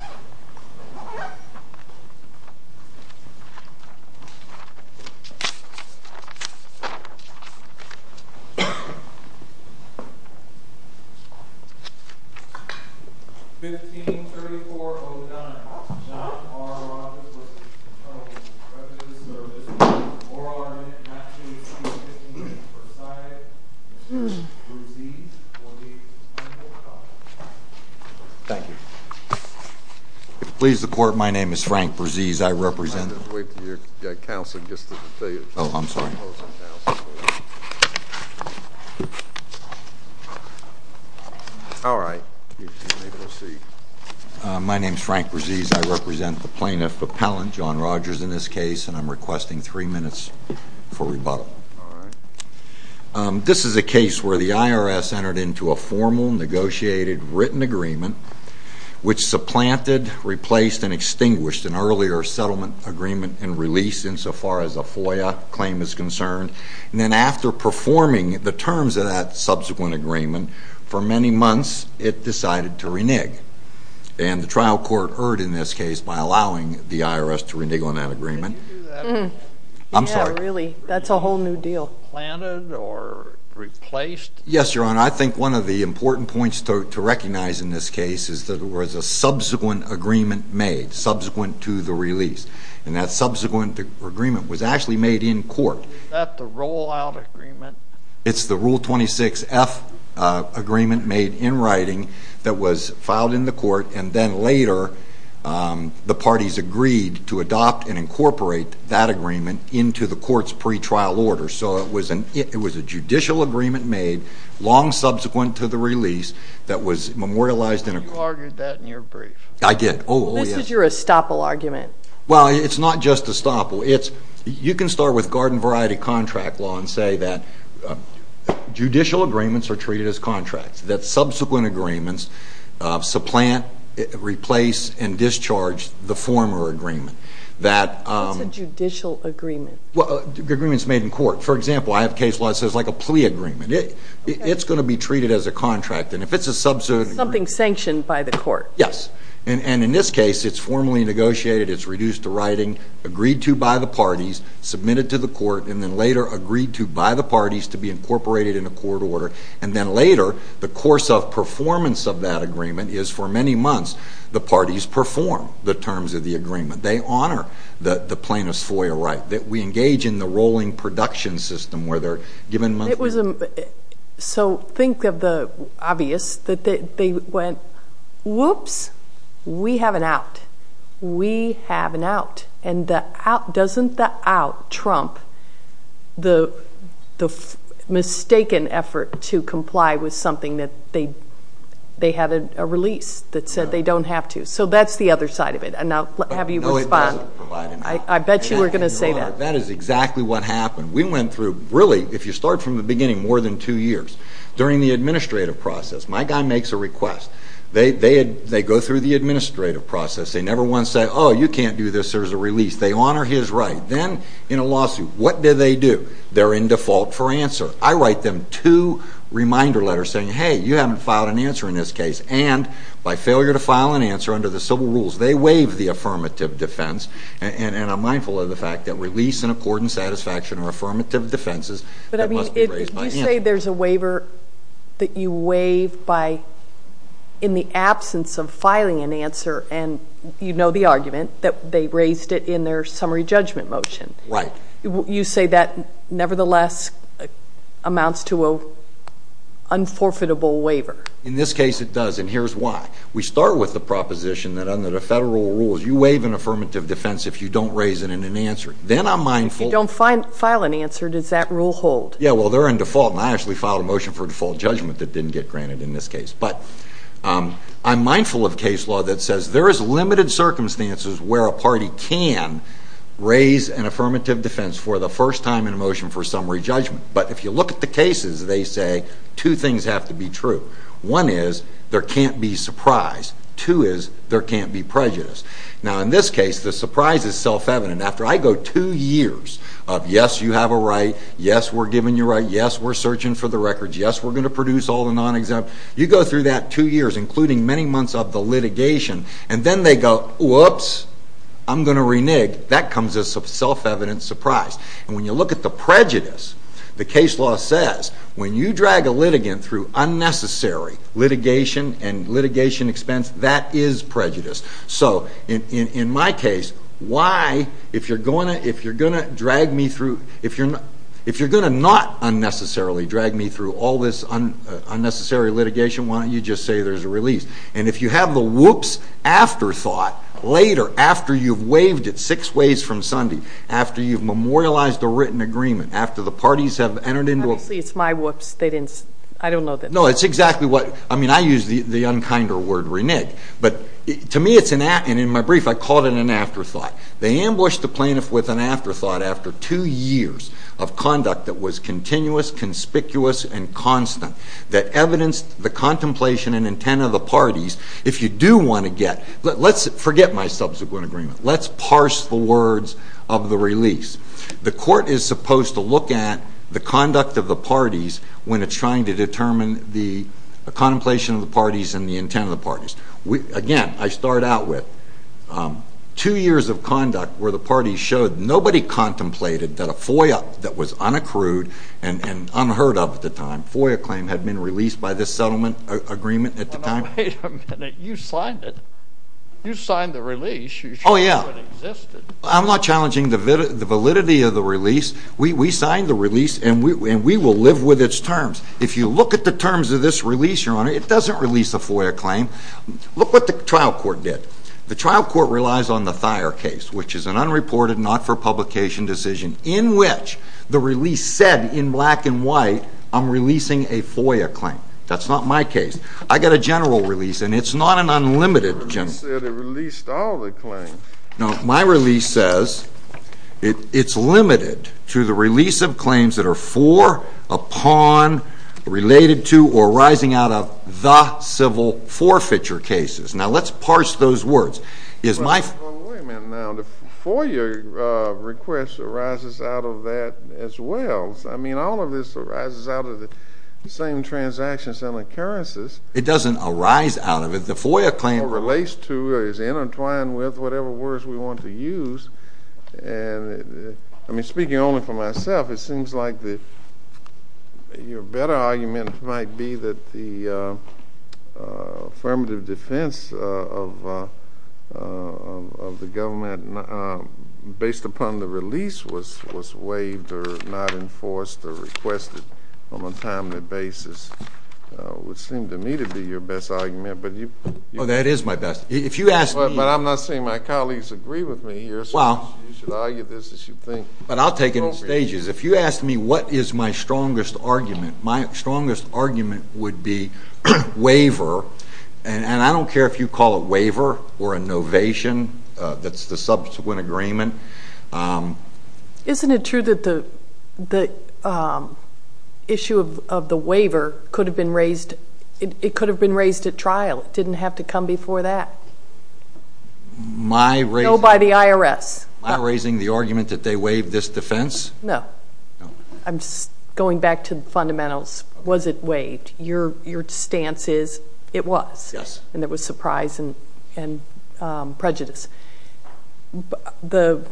153409, John R. Rogers v. Attorney General of the Presidential Service, Oral Arbitratory of the U.S. Department of Justice, and I am pleased to be speaking on behalf of Versailles. Mr. Brzezins will make his final comment. Thank you. Please support. My name is Frank Brzezins. I represent the plaintiff appellant, John Rogers, in this case, and I'm requesting three minutes for rebuttal. This is a case where the IRS entered into a formal negotiated written agreement which supplanted, replaced, and extinguished an earlier settlement agreement and release in sofar as a FOIA claim is concerned, and then after performing the terms of that subsequent agreement for many months, it decided to renege, and the trial court erred in this case by allowing the IRS to renege on that agreement. Did you do that? I'm sorry. Yeah, really. That's a whole new deal. Planted or replaced? Yes, Your Honor. I think one of the important points to recognize in this case is that there was a subsequent agreement made, subsequent to the release, and that subsequent agreement was actually made in court. Is that the rollout agreement? It's the Rule 26F agreement made in writing that was filed in the court, and then later the parties agreed to adopt and incorporate that agreement into the court's pretrial order. So it was a judicial agreement made long subsequent to the release that was memorialized in a court. You argued that in your brief. I did. Oh, yes. This is your estoppel argument. Well, it's not just estoppel. You can start with garden variety contract law and say that judicial agreements are treated as contracts, that subsequent agreements supplant, replace, and discharge the former agreement. That's a judicial agreement. Well, agreements made in court. For example, I have case law that says like a plea agreement. It's going to be treated as a contract, and if it's a subsequent agreement. Something sanctioned by the court. Yes. And in this case, it's formally negotiated. It's reduced to writing, agreed to by the parties, submitted to the court, and then later agreed to by the parties to be incorporated in a court order, and then later, the course of performance of that agreement is for many months, the parties perform the terms of the agreement. They honor the plaintiff's FOIA right. We engage in the rolling production system where they're given monthly. So think of the obvious, that they went, whoops, we have an out. We have an out. And doesn't the out trump the mistaken effort to comply with something that they had a release that said they don't have to? So that's the other side of it. And now have you respond. No, it doesn't provide an out. I bet you were going to say that. That is exactly what happened. We went through, really, if you start from the beginning, more than two years. During the administrative process, my guy makes a request. They go through the administrative process. They never once say, oh, you can't do this. There's a release. They honor his right. Then in a lawsuit, what do they do? They're in default for answer. I write them two reminder letters saying, hey, you haven't filed an answer in this case. And by failure to file an answer under the civil rules, they waive the affirmative defense. And I'm mindful of the fact that release and accord and satisfaction are affirmative defenses that must be raised by him. You say there's a waiver that you waive in the absence of filing an answer. And you know the argument that they raised it in their summary judgment motion. You say that, nevertheless, amounts to an unforfeitable waiver. In this case, it does. And here's why. We start with the proposition that under the federal rules, you waive an affirmative defense if you don't raise it in an answer. Then I'm mindful. You don't file an answer. Does that rule hold? Yeah, well, they're in default. And I actually filed a motion for default judgment that didn't get granted in this case. But I'm mindful of case law that says there is limited circumstances where a party can raise an affirmative defense for the first time in a motion for summary judgment. But if you look at the cases, they say two things have to be true. One is there can't be surprise. Two is there can't be prejudice. Now in this case, the surprise is self-evident. After I go two years of, yes, you have a right, yes, we're giving you a right, yes, we're searching for the records, yes, we're going to produce all the non-exempt, you go through that two years, including many months of the litigation, and then they go, whoops, I'm going to renege. That comes as a self-evident surprise. And when you look at the prejudice, the case law says when you drag a litigant through unnecessary litigation and litigation expense, that is prejudice. So in my case, why, if you're going to, if you're going to drag me through, if you're going to not unnecessarily drag me through all this unnecessary litigation, why don't you just say there's a release? And if you have the whoops afterthought, later, after you've waived it six ways from Sunday, after you've memorialized a written agreement, after the parties have entered into a... Obviously, it's my whoops. They didn't, I don't know that. No, it's exactly what, I mean, I use the unkinder word, renege. But to me, it's an, and in my brief, I called it an afterthought. They ambushed the plaintiff with an afterthought after two years of conduct that was continuous, conspicuous, and constant, that evidenced the contemplation and intent of the parties. If you do want to get, let's forget my subsequent agreement. Let's parse the words of the release. The court is supposed to look at the conduct of the parties when it's trying to determine the contemplation of the parties and the intent of the parties. Again, I start out with two years of conduct where the parties showed nobody contemplated that a FOIA that was unaccrued and unheard of at the time, FOIA claim had been released by this settlement agreement at the time. Wait a minute, you signed it. You signed the release. Oh yeah. You showed it existed. I'm not challenging the validity of the release. We signed the release and we will live with its terms. If you look at the terms of this release, Your Honor, it doesn't release a FOIA claim. Look what the trial court did. The trial court relies on the Thayer case, which is an unreported not-for-publication decision in which the release said, in black and white, I'm releasing a FOIA claim. That's not my case. I got a general release and it's not an unlimited general. You said it released all the claims. No, my release says it's limited to the release of claims that are for, upon, related to, or arising out of the civil forfeiture cases. Now let's parse those words. Is my... Wait a minute now. The FOIA request arises out of that as well. I mean all of this arises out of the same transactions and occurrences. It doesn't arise out of it. The FOIA claim relates to or is intertwined with whatever words we want to use and I mean speaking only for myself, it seems like your better argument might be that the affirmative defense of the government, based upon the release, was waived or not enforced or requested on a timely basis would seem to me to be your best argument. Oh, that is my best. If you ask me... But I'm not saying my colleagues agree with me here, so you should argue this as you think appropriate. But I'll take it in stages. If you ask me what is my strongest argument, my strongest argument would be waiver and I don't care if you call it waiver or a novation, that's the subsequent agreement. Isn't it true that the issue of the waiver could have been raised, it could have been raised at trial? It didn't have to come before that? My raising... No, by the IRS. My raising the argument that they waived this defense? No. I'm just going back to the fundamentals. Was it waived? Your stance is it was. Yes. And there was surprise and prejudice. The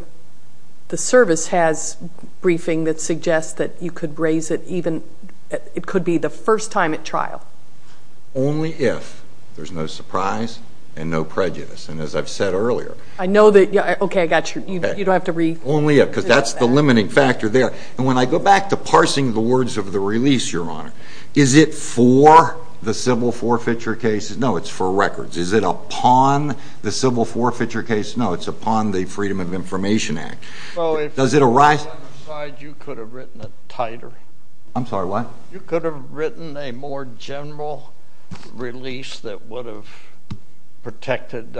service has briefing that suggests that you could raise it even, it could be the first time at trial. Only if there's no surprise and no prejudice and as I've said earlier... I know that... Okay, I got you. You don't have to read... Only if, because that's the limiting factor there. And when I go back to parsing the words of the release, Your Honor, is it for the civil forfeiture cases? No, it's for records. Is it upon the civil forfeiture case? No, it's upon the Freedom of Information Act. Does it arise... Well, if you had written a titer... I'm sorry, what? You could have written a more general release that would have protected,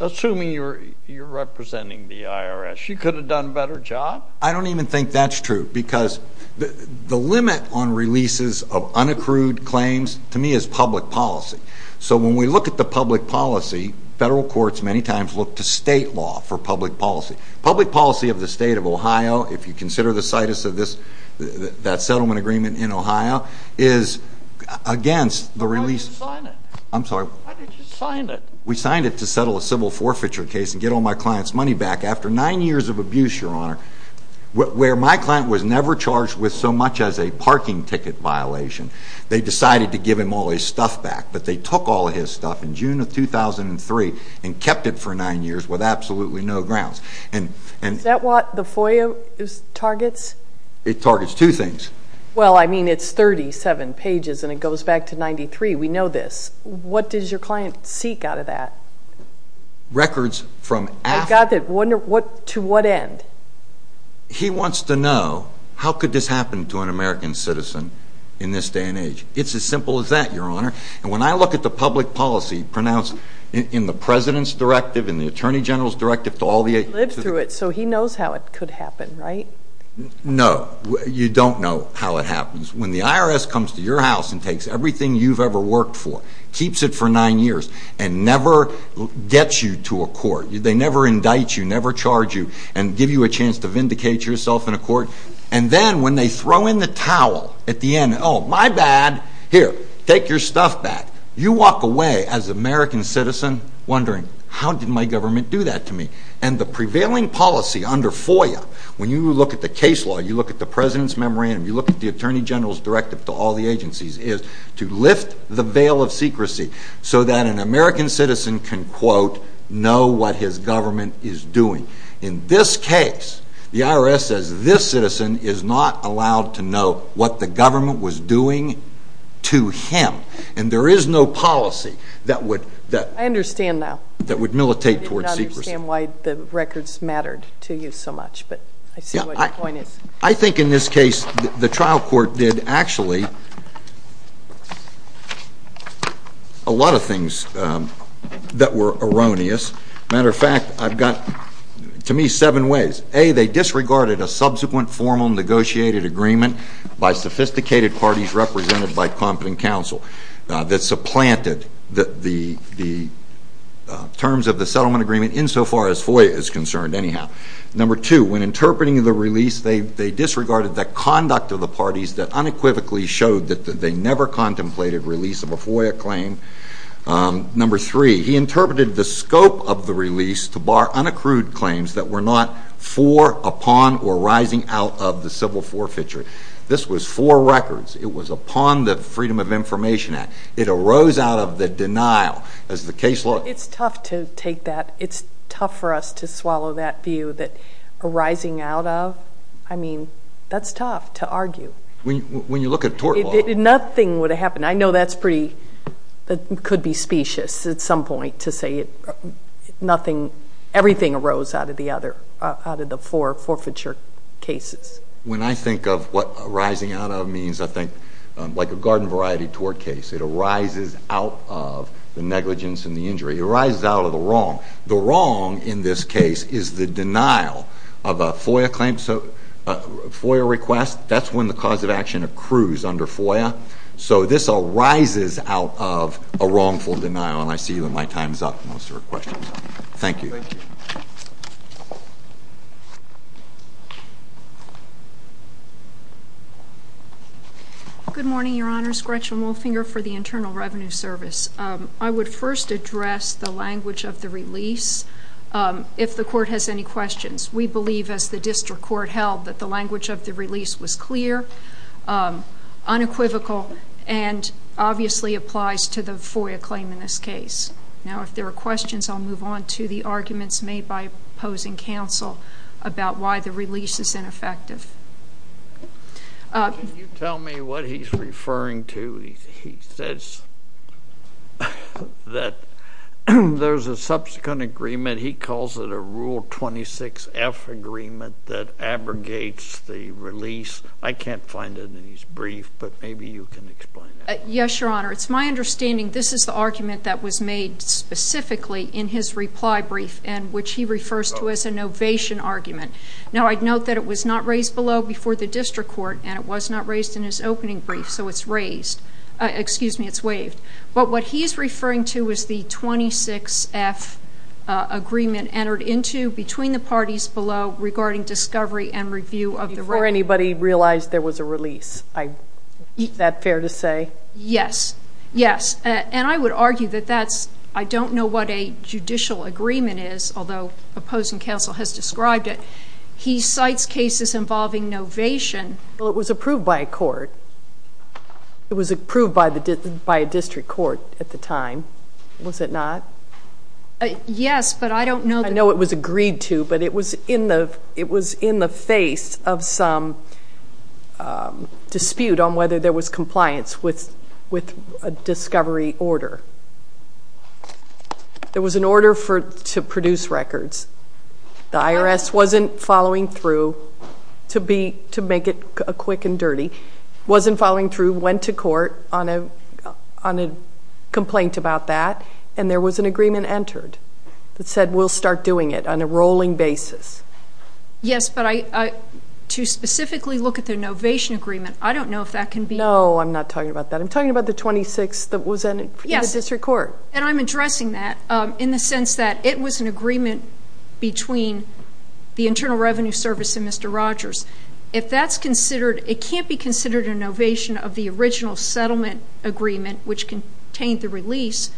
assuming you're representing the IRS, you could have done a better job? I don't even think that's true because the limit on releases of unaccrued claims to me is public policy. So when we look at the public policy, federal courts many times look to state law for public policy. Public policy of the state of Ohio, if you consider the situs of that settlement agreement in Ohio, is against the release... Why did you sign it? I'm sorry? Why did you sign it? We signed it to settle a civil forfeiture case and get all my client's money back after nine years of abuse, Your Honor, where my client was never charged with so much as a parking ticket violation. They decided to give him all his stuff back, but they took all his stuff in June of 2003 and kept it for nine years with absolutely no grounds. And... Is that what the FOIA targets? It targets two things. Well, I mean, it's 37 pages and it goes back to 93. We know this. What does your client seek out of that? Records from after... I got that. To what end? He wants to know, how could this happen to an American citizen in this day and age? It's as simple as that, Your Honor. And when I look at the public policy pronounced in the President's Directive, in the Attorney General's Directive, to all the... He lived through it, so he knows how it could happen, right? No. You don't know how it happens. When the IRS comes to your house and takes everything you've ever worked for, keeps it for nine years, and never gets you to a court, they never indict you, never charge you, and give you a chance to vindicate yourself in a court. And then when they throw in the towel at the end, oh, my bad, here, take your stuff back, you walk away as an American citizen wondering, how did my government do that to me? And the prevailing policy under FOIA, when you look at the case law, you look at the President's Memorandum, you look at the Attorney General's Directive to all the agencies, is to lift the veil of secrecy so that an American citizen can, quote, know what his government is doing. In this case, the IRS says this citizen is not allowed to know what the government was doing to him. And there is no policy that would... I understand now. That would militate towards secrecy. I did not understand why the records mattered to you so much, but I see what your point is. I think in this case, the trial court did, actually, a lot of things that were erroneous. Matter of fact, I've got, to me, seven ways. A, they disregarded a subsequent formal negotiated agreement by sophisticated parties represented by competent counsel that supplanted the terms of the settlement agreement insofar as FOIA is concerned, anyhow. Number two, when interpreting the release, they disregarded the conduct of the parties that unequivocally showed that they never contemplated release of a FOIA claim. Number three, he interpreted the scope of the release to bar unaccrued claims that were not for, upon, or rising out of the civil forfeiture. This was for records. It was upon the Freedom of Information Act. It arose out of the denial, as the case law... It's tough to take that. It's tough for us to swallow that view that arising out of, I mean, that's tough to argue. When you look at tort law... Nothing would have happened. I know that's pretty, that could be specious at some point to say it, nothing, everything arose out of the other, out of the four forfeiture cases. When I think of what arising out of means, I think, like a garden variety tort case, it arises out of the negligence and the injury. It arises out of the wrong. The wrong in this case is the denial of a FOIA claim, so FOIA request, that's when the cause of action accrues under FOIA. So this arises out of a wrongful denial, and I see that my time's up, most of our questions. Thank you. Thank you. Good morning, Your Honors. Gretchen Wolfinger for the Internal Revenue Service. I would first address the language of the release. If the court has any questions, we believe, as the district court held, that the language of the release was clear. Unequivocal, and obviously applies to the FOIA claim in this case. Now, if there are questions, I'll move on to the arguments made by opposing counsel about why the release is ineffective. Can you tell me what he's referring to? He says that there's a subsequent agreement, he calls it a Rule 26F agreement that abrogates the release. I can't find it in his brief, but maybe you can explain that. Yes, Your Honor. It's my understanding this is the argument that was made specifically in his reply brief, and which he refers to as an ovation argument. Now, I'd note that it was not raised below before the district court, and it was not raised in his opening brief, so it's raised, excuse me, it's waived. But what he's referring to is the 26F agreement entered into between the parties below regarding discovery and review of the record. Before anybody realized there was a release, is that fair to say? Yes. Yes. And I would argue that that's, I don't know what a judicial agreement is, although opposing counsel has described it. He cites cases involving novation. Well, it was approved by a court. It was approved by a district court at the time. Was it not? Yes, but I don't know. I know it was agreed to, but it was in the face of some dispute on whether there was compliance with a discovery order. There was an order to produce records. The IRS wasn't following through, to make it quick and dirty, wasn't following through, went to court on a complaint about that, and there was an agreement entered that said we'll start doing it on a rolling basis. Yes, but to specifically look at the novation agreement, I don't know if that can be... No, I'm not talking about that. I'm talking about the 26 that was in the district court. And I'm addressing that in the sense that it was an agreement between the Internal Revenue Service and Mr. Rogers. If that's considered, it can't be considered a novation of the original settlement agreement, which contained the release,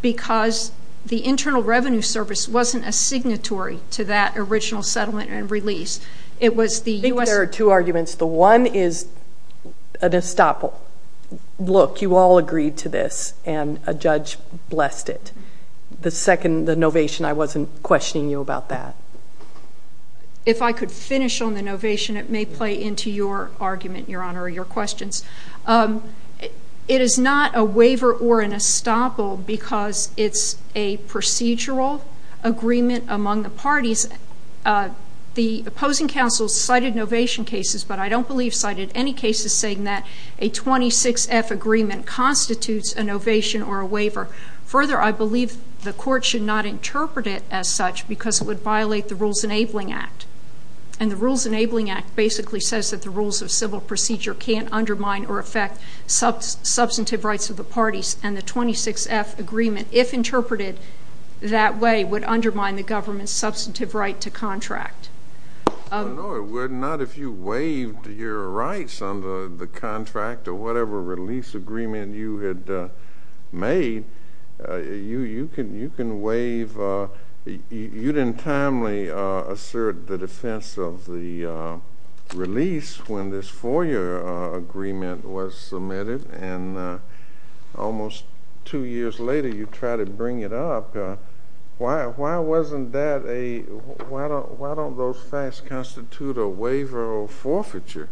because the Internal Revenue Service wasn't a signatory to that original settlement and release. It was the U.S. I think there are two arguments. The one is an estoppel. Look, you all agreed to this, and a judge blessed it. The second, the novation, I wasn't questioning you about that. If I could finish on the novation, it may play into your argument, Your Honor, or your questions. It is not a waiver or an estoppel because it's a procedural agreement among the parties. The opposing counsel cited novation cases, but I don't believe cited any cases saying that a 26-F agreement constitutes a novation or a waiver. Further, I believe the court should not interpret it as such because it would violate the Rules Enabling Act. And the Rules Enabling Act basically says that the rules of civil procedure can't undermine or affect substantive rights of the parties, and the 26-F agreement, if interpreted that way, would undermine the government's substantive right to contract. No, it would not. If you waived your rights under the contract or whatever release agreement you had made, you can waive—you didn't timely assert the defense of the release when this 4-year agreement was submitted, and almost 2 years later, you try to bring it up. Why wasn't that a—why don't those facts constitute a waiver or a forfeiture?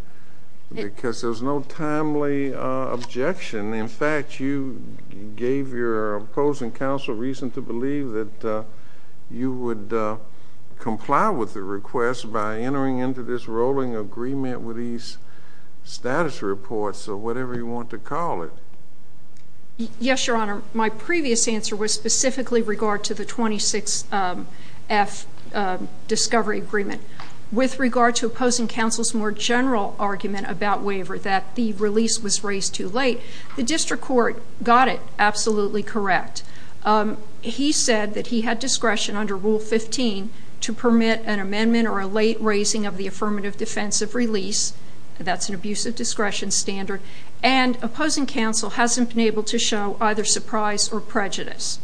Because there's no timely objection. In fact, you gave your opposing counsel reason to believe that you would comply with the request by entering into this rolling agreement with these status reports or whatever you want to call it. Yes, Your Honor. My previous answer was specifically regard to the 26-F discovery agreement. With regard to opposing counsel's more general argument about waiver, that the release was raised too late, the district court got it absolutely correct. He said that he had discretion under Rule 15 to permit an amendment or a late raising of the affirmative defense of release—that's an abusive discretion standard—and opposing counsel hasn't been able to show either surprise or prejudice.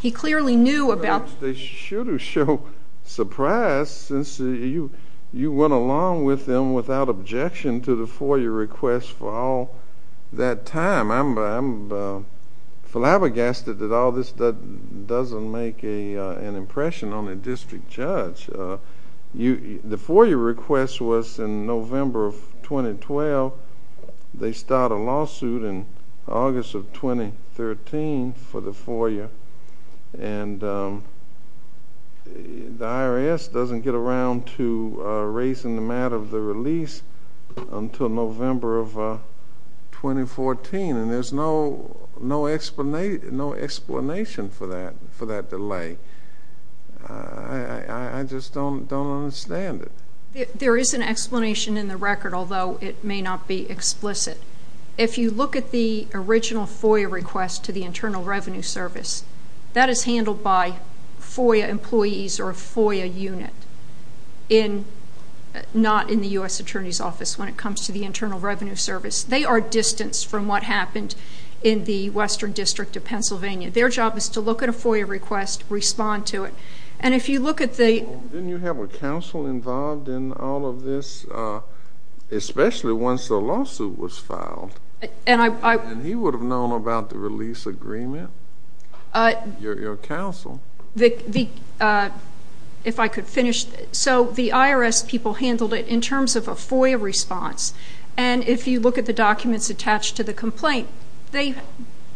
He clearly knew about— Well, they should have shown surprise since you went along with them without objection to the FOIA request for all that time. I'm flabbergasted that all this doesn't make an impression on a district judge. The FOIA request was in November of 2012. They start a lawsuit in August of 2013 for the FOIA, and the IRS doesn't get around to raising the matter of the release until November of 2014, and there's no explanation for that delay. I just don't understand it. There is an explanation in the record, although it may not be explicit. If you look at the original FOIA request to the Internal Revenue Service, that is handled by FOIA employees or a FOIA unit, not in the U.S. Attorney's Office when it comes to the Internal Revenue Service. They are distanced from what happened in the Western District of Pennsylvania. Their job is to look at a FOIA request, respond to it, and if you look at the— Didn't you have a counsel involved in all of this, especially once the lawsuit was filed? And he would have known about the release agreement, your counsel. If I could finish. So the IRS people handled it in terms of a FOIA response, and if you look at the documents attached to the complaint, they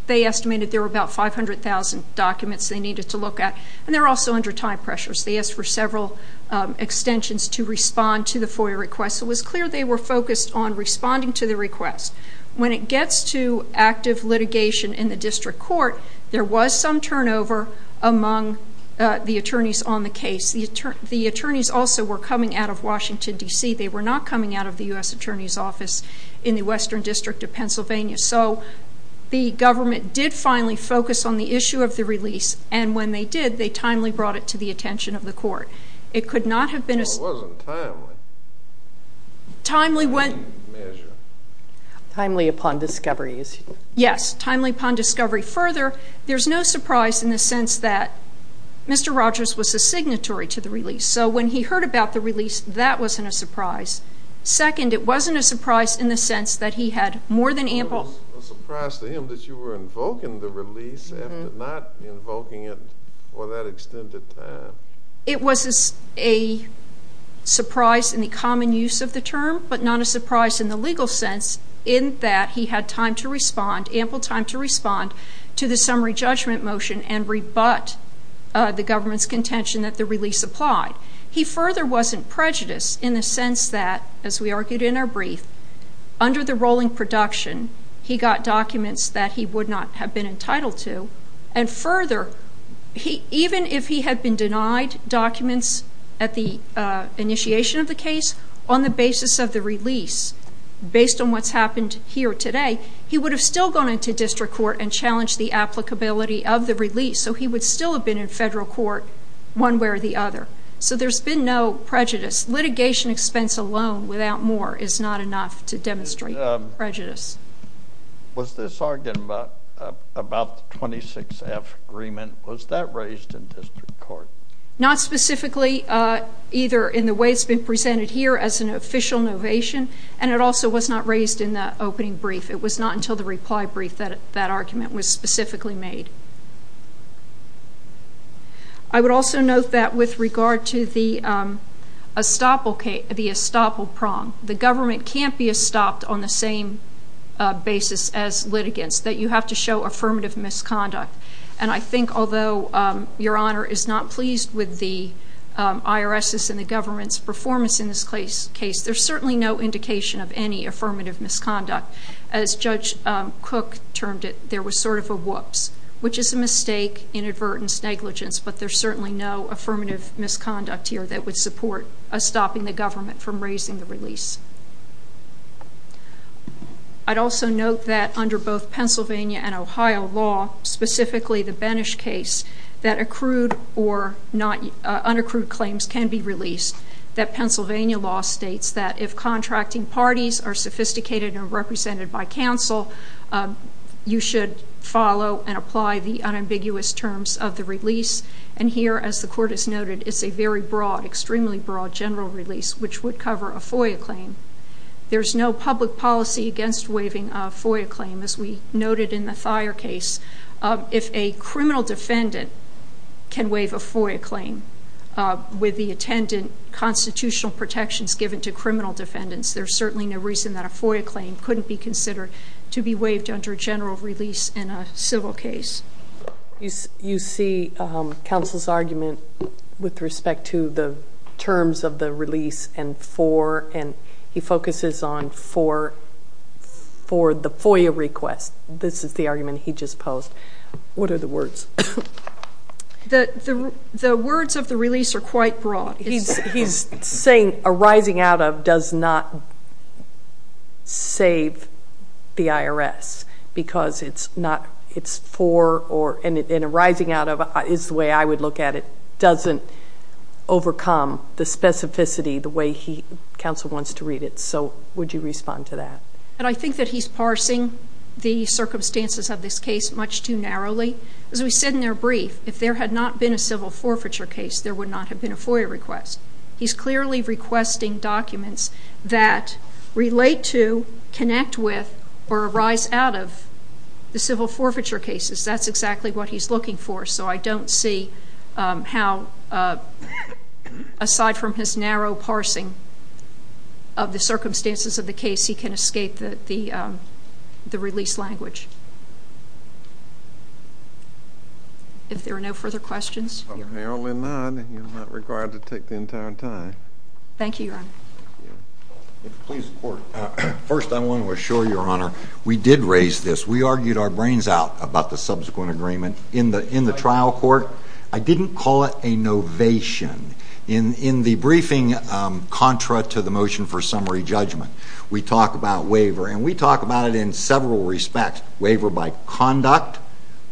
estimated there were about 500,000 documents they needed to look at, and they were also under time pressures. They asked for several extensions to respond to the FOIA request. It was clear they were focused on responding to the request. When it gets to active litigation in the district court, there was some turnover among the attorneys on the case. The attorneys also were coming out of Washington, D.C. They were not coming out of the U.S. Attorney's Office in the Western District of Pennsylvania. So the government did finally focus on the issue of the release, and when they did, they timely brought it to the attention of the court. It could not have been a... Well, it wasn't timely. Timely when... Measure. Timely upon discovery. Yes. Timely upon discovery. Further, there's no surprise in the sense that Mr. Rogers was a signatory to the release. So when he heard about the release, that wasn't a surprise. Second, it wasn't a surprise in the sense that he had more than ample... It was a surprise to him that you were invoking the release after not invoking it for that extent of time. It was a surprise in the common use of the term, but not a surprise in the legal sense in that he had time to respond, ample time to respond, to the summary judgment motion and rebut the government's contention that the release applied. He further wasn't prejudiced in the sense that, as we argued in our brief, under the rolling production, he got documents that he would not have been entitled to. And further, even if he had been denied documents at the initiation of the case, on the basis of the release, based on what's happened here today, he would have still gone into district court and challenged the applicability of the release. So he would still have been in federal court one way or the other. So there's been no prejudice. Litigation expense alone, without more, is not enough to demonstrate prejudice. Was this argument about the 26F agreement, was that raised in district court? Not specifically, either in the way it's been presented here as an official novation, and it also was not raised in the opening brief. It was not until the reply brief that that argument was specifically made. I would also note that with regard to the estoppel prong, the government can't be estopped on the same basis as litigants, that you have to show affirmative misconduct. And I think, although Your Honor is not pleased with the IRS's and the government's performance in this case, there's certainly no indication of any affirmative misconduct. As Judge Cook termed it, there was sort of a whoops, which is a mistake, inadvertence, negligence, but there's certainly no affirmative misconduct here that would support stopping the government from raising the release. I'd also note that under both Pennsylvania and Ohio law, specifically the Benesh case, that accrued or unaccrued claims can be released. That Pennsylvania law states that if contracting parties are sophisticated and represented by counsel, you should follow and apply the unambiguous terms of the release. And here, as the Court has noted, it's a very broad, extremely broad general release, which would cover a FOIA claim. There's no public policy against waiving a FOIA claim, as we noted in the Thayer case. If a criminal defendant can waive a FOIA claim with the attendant constitutional protections given to criminal defendants, there's certainly no reason that a FOIA claim couldn't be considered to be waived under a general release in a civil case. You see counsel's argument with respect to the terms of the release and for, and he focuses on for the FOIA request. This is the argument he just posed. What are the words? The words of the release are quite broad. He's saying arising out of does not save the IRS because it's for, and arising out of is the way I would look at it, doesn't overcome the specificity the way counsel wants to read it. So would you respond to that? I think that he's parsing the circumstances of this case much too narrowly. As we said in their brief, if there had not been a civil forfeiture case, there would not have been a FOIA request. He's clearly requesting documents that relate to, connect with, or arise out of the civil forfeiture cases. That's exactly what he's looking for. So I don't see how, aside from his narrow parsing of the circumstances of the case, he can escape the release language. If there are no further questions. Apparently not. He's not required to take the entire time. Thank you, Your Honor. First, I want to assure Your Honor, we did raise this. We argued our brains out about the subsequent agreement in the trial court. I didn't call it a novation. In the briefing contra to the motion for summary judgment, we talk about waiver. And we talk about it in several respects. Waiver by conduct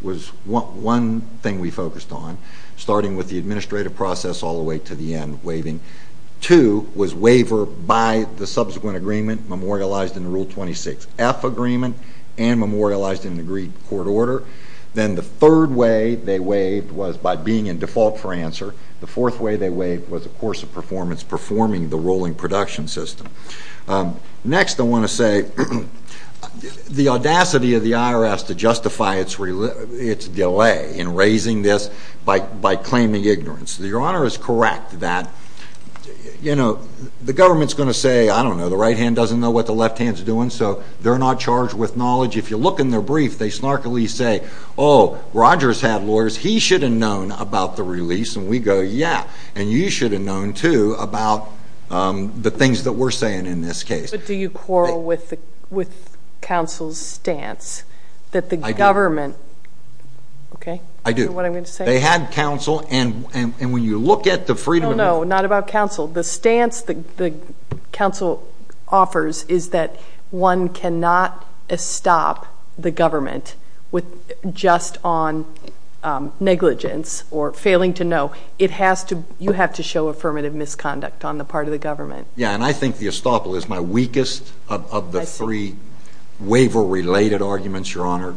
was one thing we focused on, starting with the administrative process all the way to the end of waiving. Two was waiver by the subsequent agreement memorialized in the Rule 26F agreement and memorialized in an agreed court order. Then the third way they waived was by being in default for answer. The fourth way they waived was a course of performance performing the ruling production system. Next, I want to say the audacity of the IRS to justify its delay in raising this by claiming ignorance. Your Honor is correct that the government is going to say, I don't know, the right hand doesn't know what the left hand is doing, so they're not charged with knowledge. If you look in their brief, they snarkily say, oh, Rogers had lawyers. He should have known about the release. And we go, yeah, and you should have known, too, about the things that we're saying in this case. But do you quarrel with counsel's stance that the government, okay? I do. You know what I'm going to say? They had counsel. And when you look at the freedom of— No, no. Not about counsel. The stance that counsel offers is that one cannot stop the government just on negligence or failing to know. It has to—you have to show affirmative misconduct on the part of the government. Yeah, and I think the estoppel is my weakest of the three waiver-related arguments, Your Honor.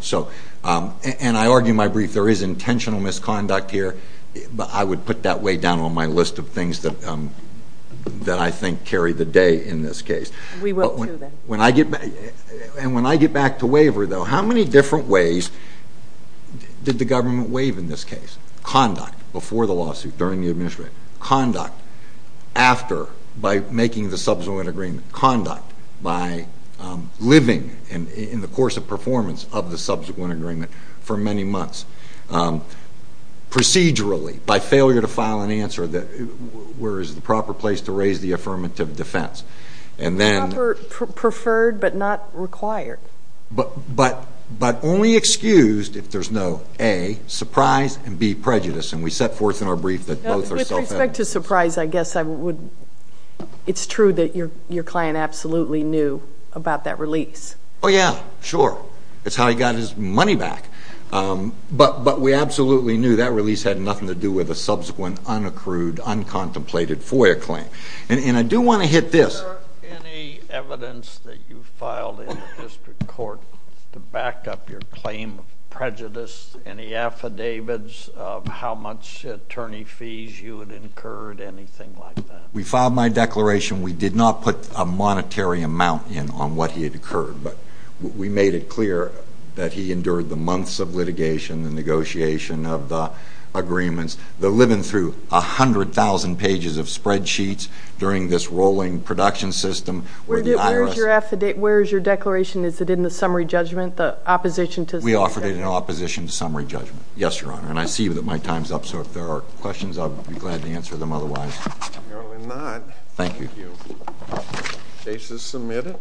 And I argue in my brief there is intentional misconduct here, but I would put that way down on my list of things that I think carry the day in this case. We will, too, then. And when I get back to waiver, though, how many different ways did the government waive in this case—conduct before the lawsuit, during the administration, conduct after, by making the subsequent agreement, conduct by living in the course of performance of the subsequent agreement for many months, procedurally, by failure to file an answer that—where is the proper place to raise the affirmative defense? And then— Proper, preferred, but not required. But only excused if there is no, A, surprise, and B, prejudice, and we set forth in our brief that both are self-evident. With respect to surprise, I guess I would—it's true that your client absolutely knew about that release. Oh, yeah. Sure. It's how he got his money back. But we absolutely knew that release had nothing to do with a subsequent, unaccrued, uncontemplated FOIA claim. And I do want to hit this— Is there any evidence that you filed in the district court to back up your claim of prejudice? Any affidavits of how much attorney fees you had incurred, anything like that? We filed my declaration. We did not put a monetary amount in on what he had incurred, but we made it clear that he endured the months of litigation, the negotiation of the agreements, the living through a hundred thousand pages of spreadsheets during this rolling production system. Where is your declaration? Is it in the summary judgment, the opposition to— We offered it in opposition to summary judgment. Yes, Your Honor. And I see that my time is up, so if there are questions, I would be glad to answer them otherwise. Apparently not. Thank you. Thank you. Case is submitted.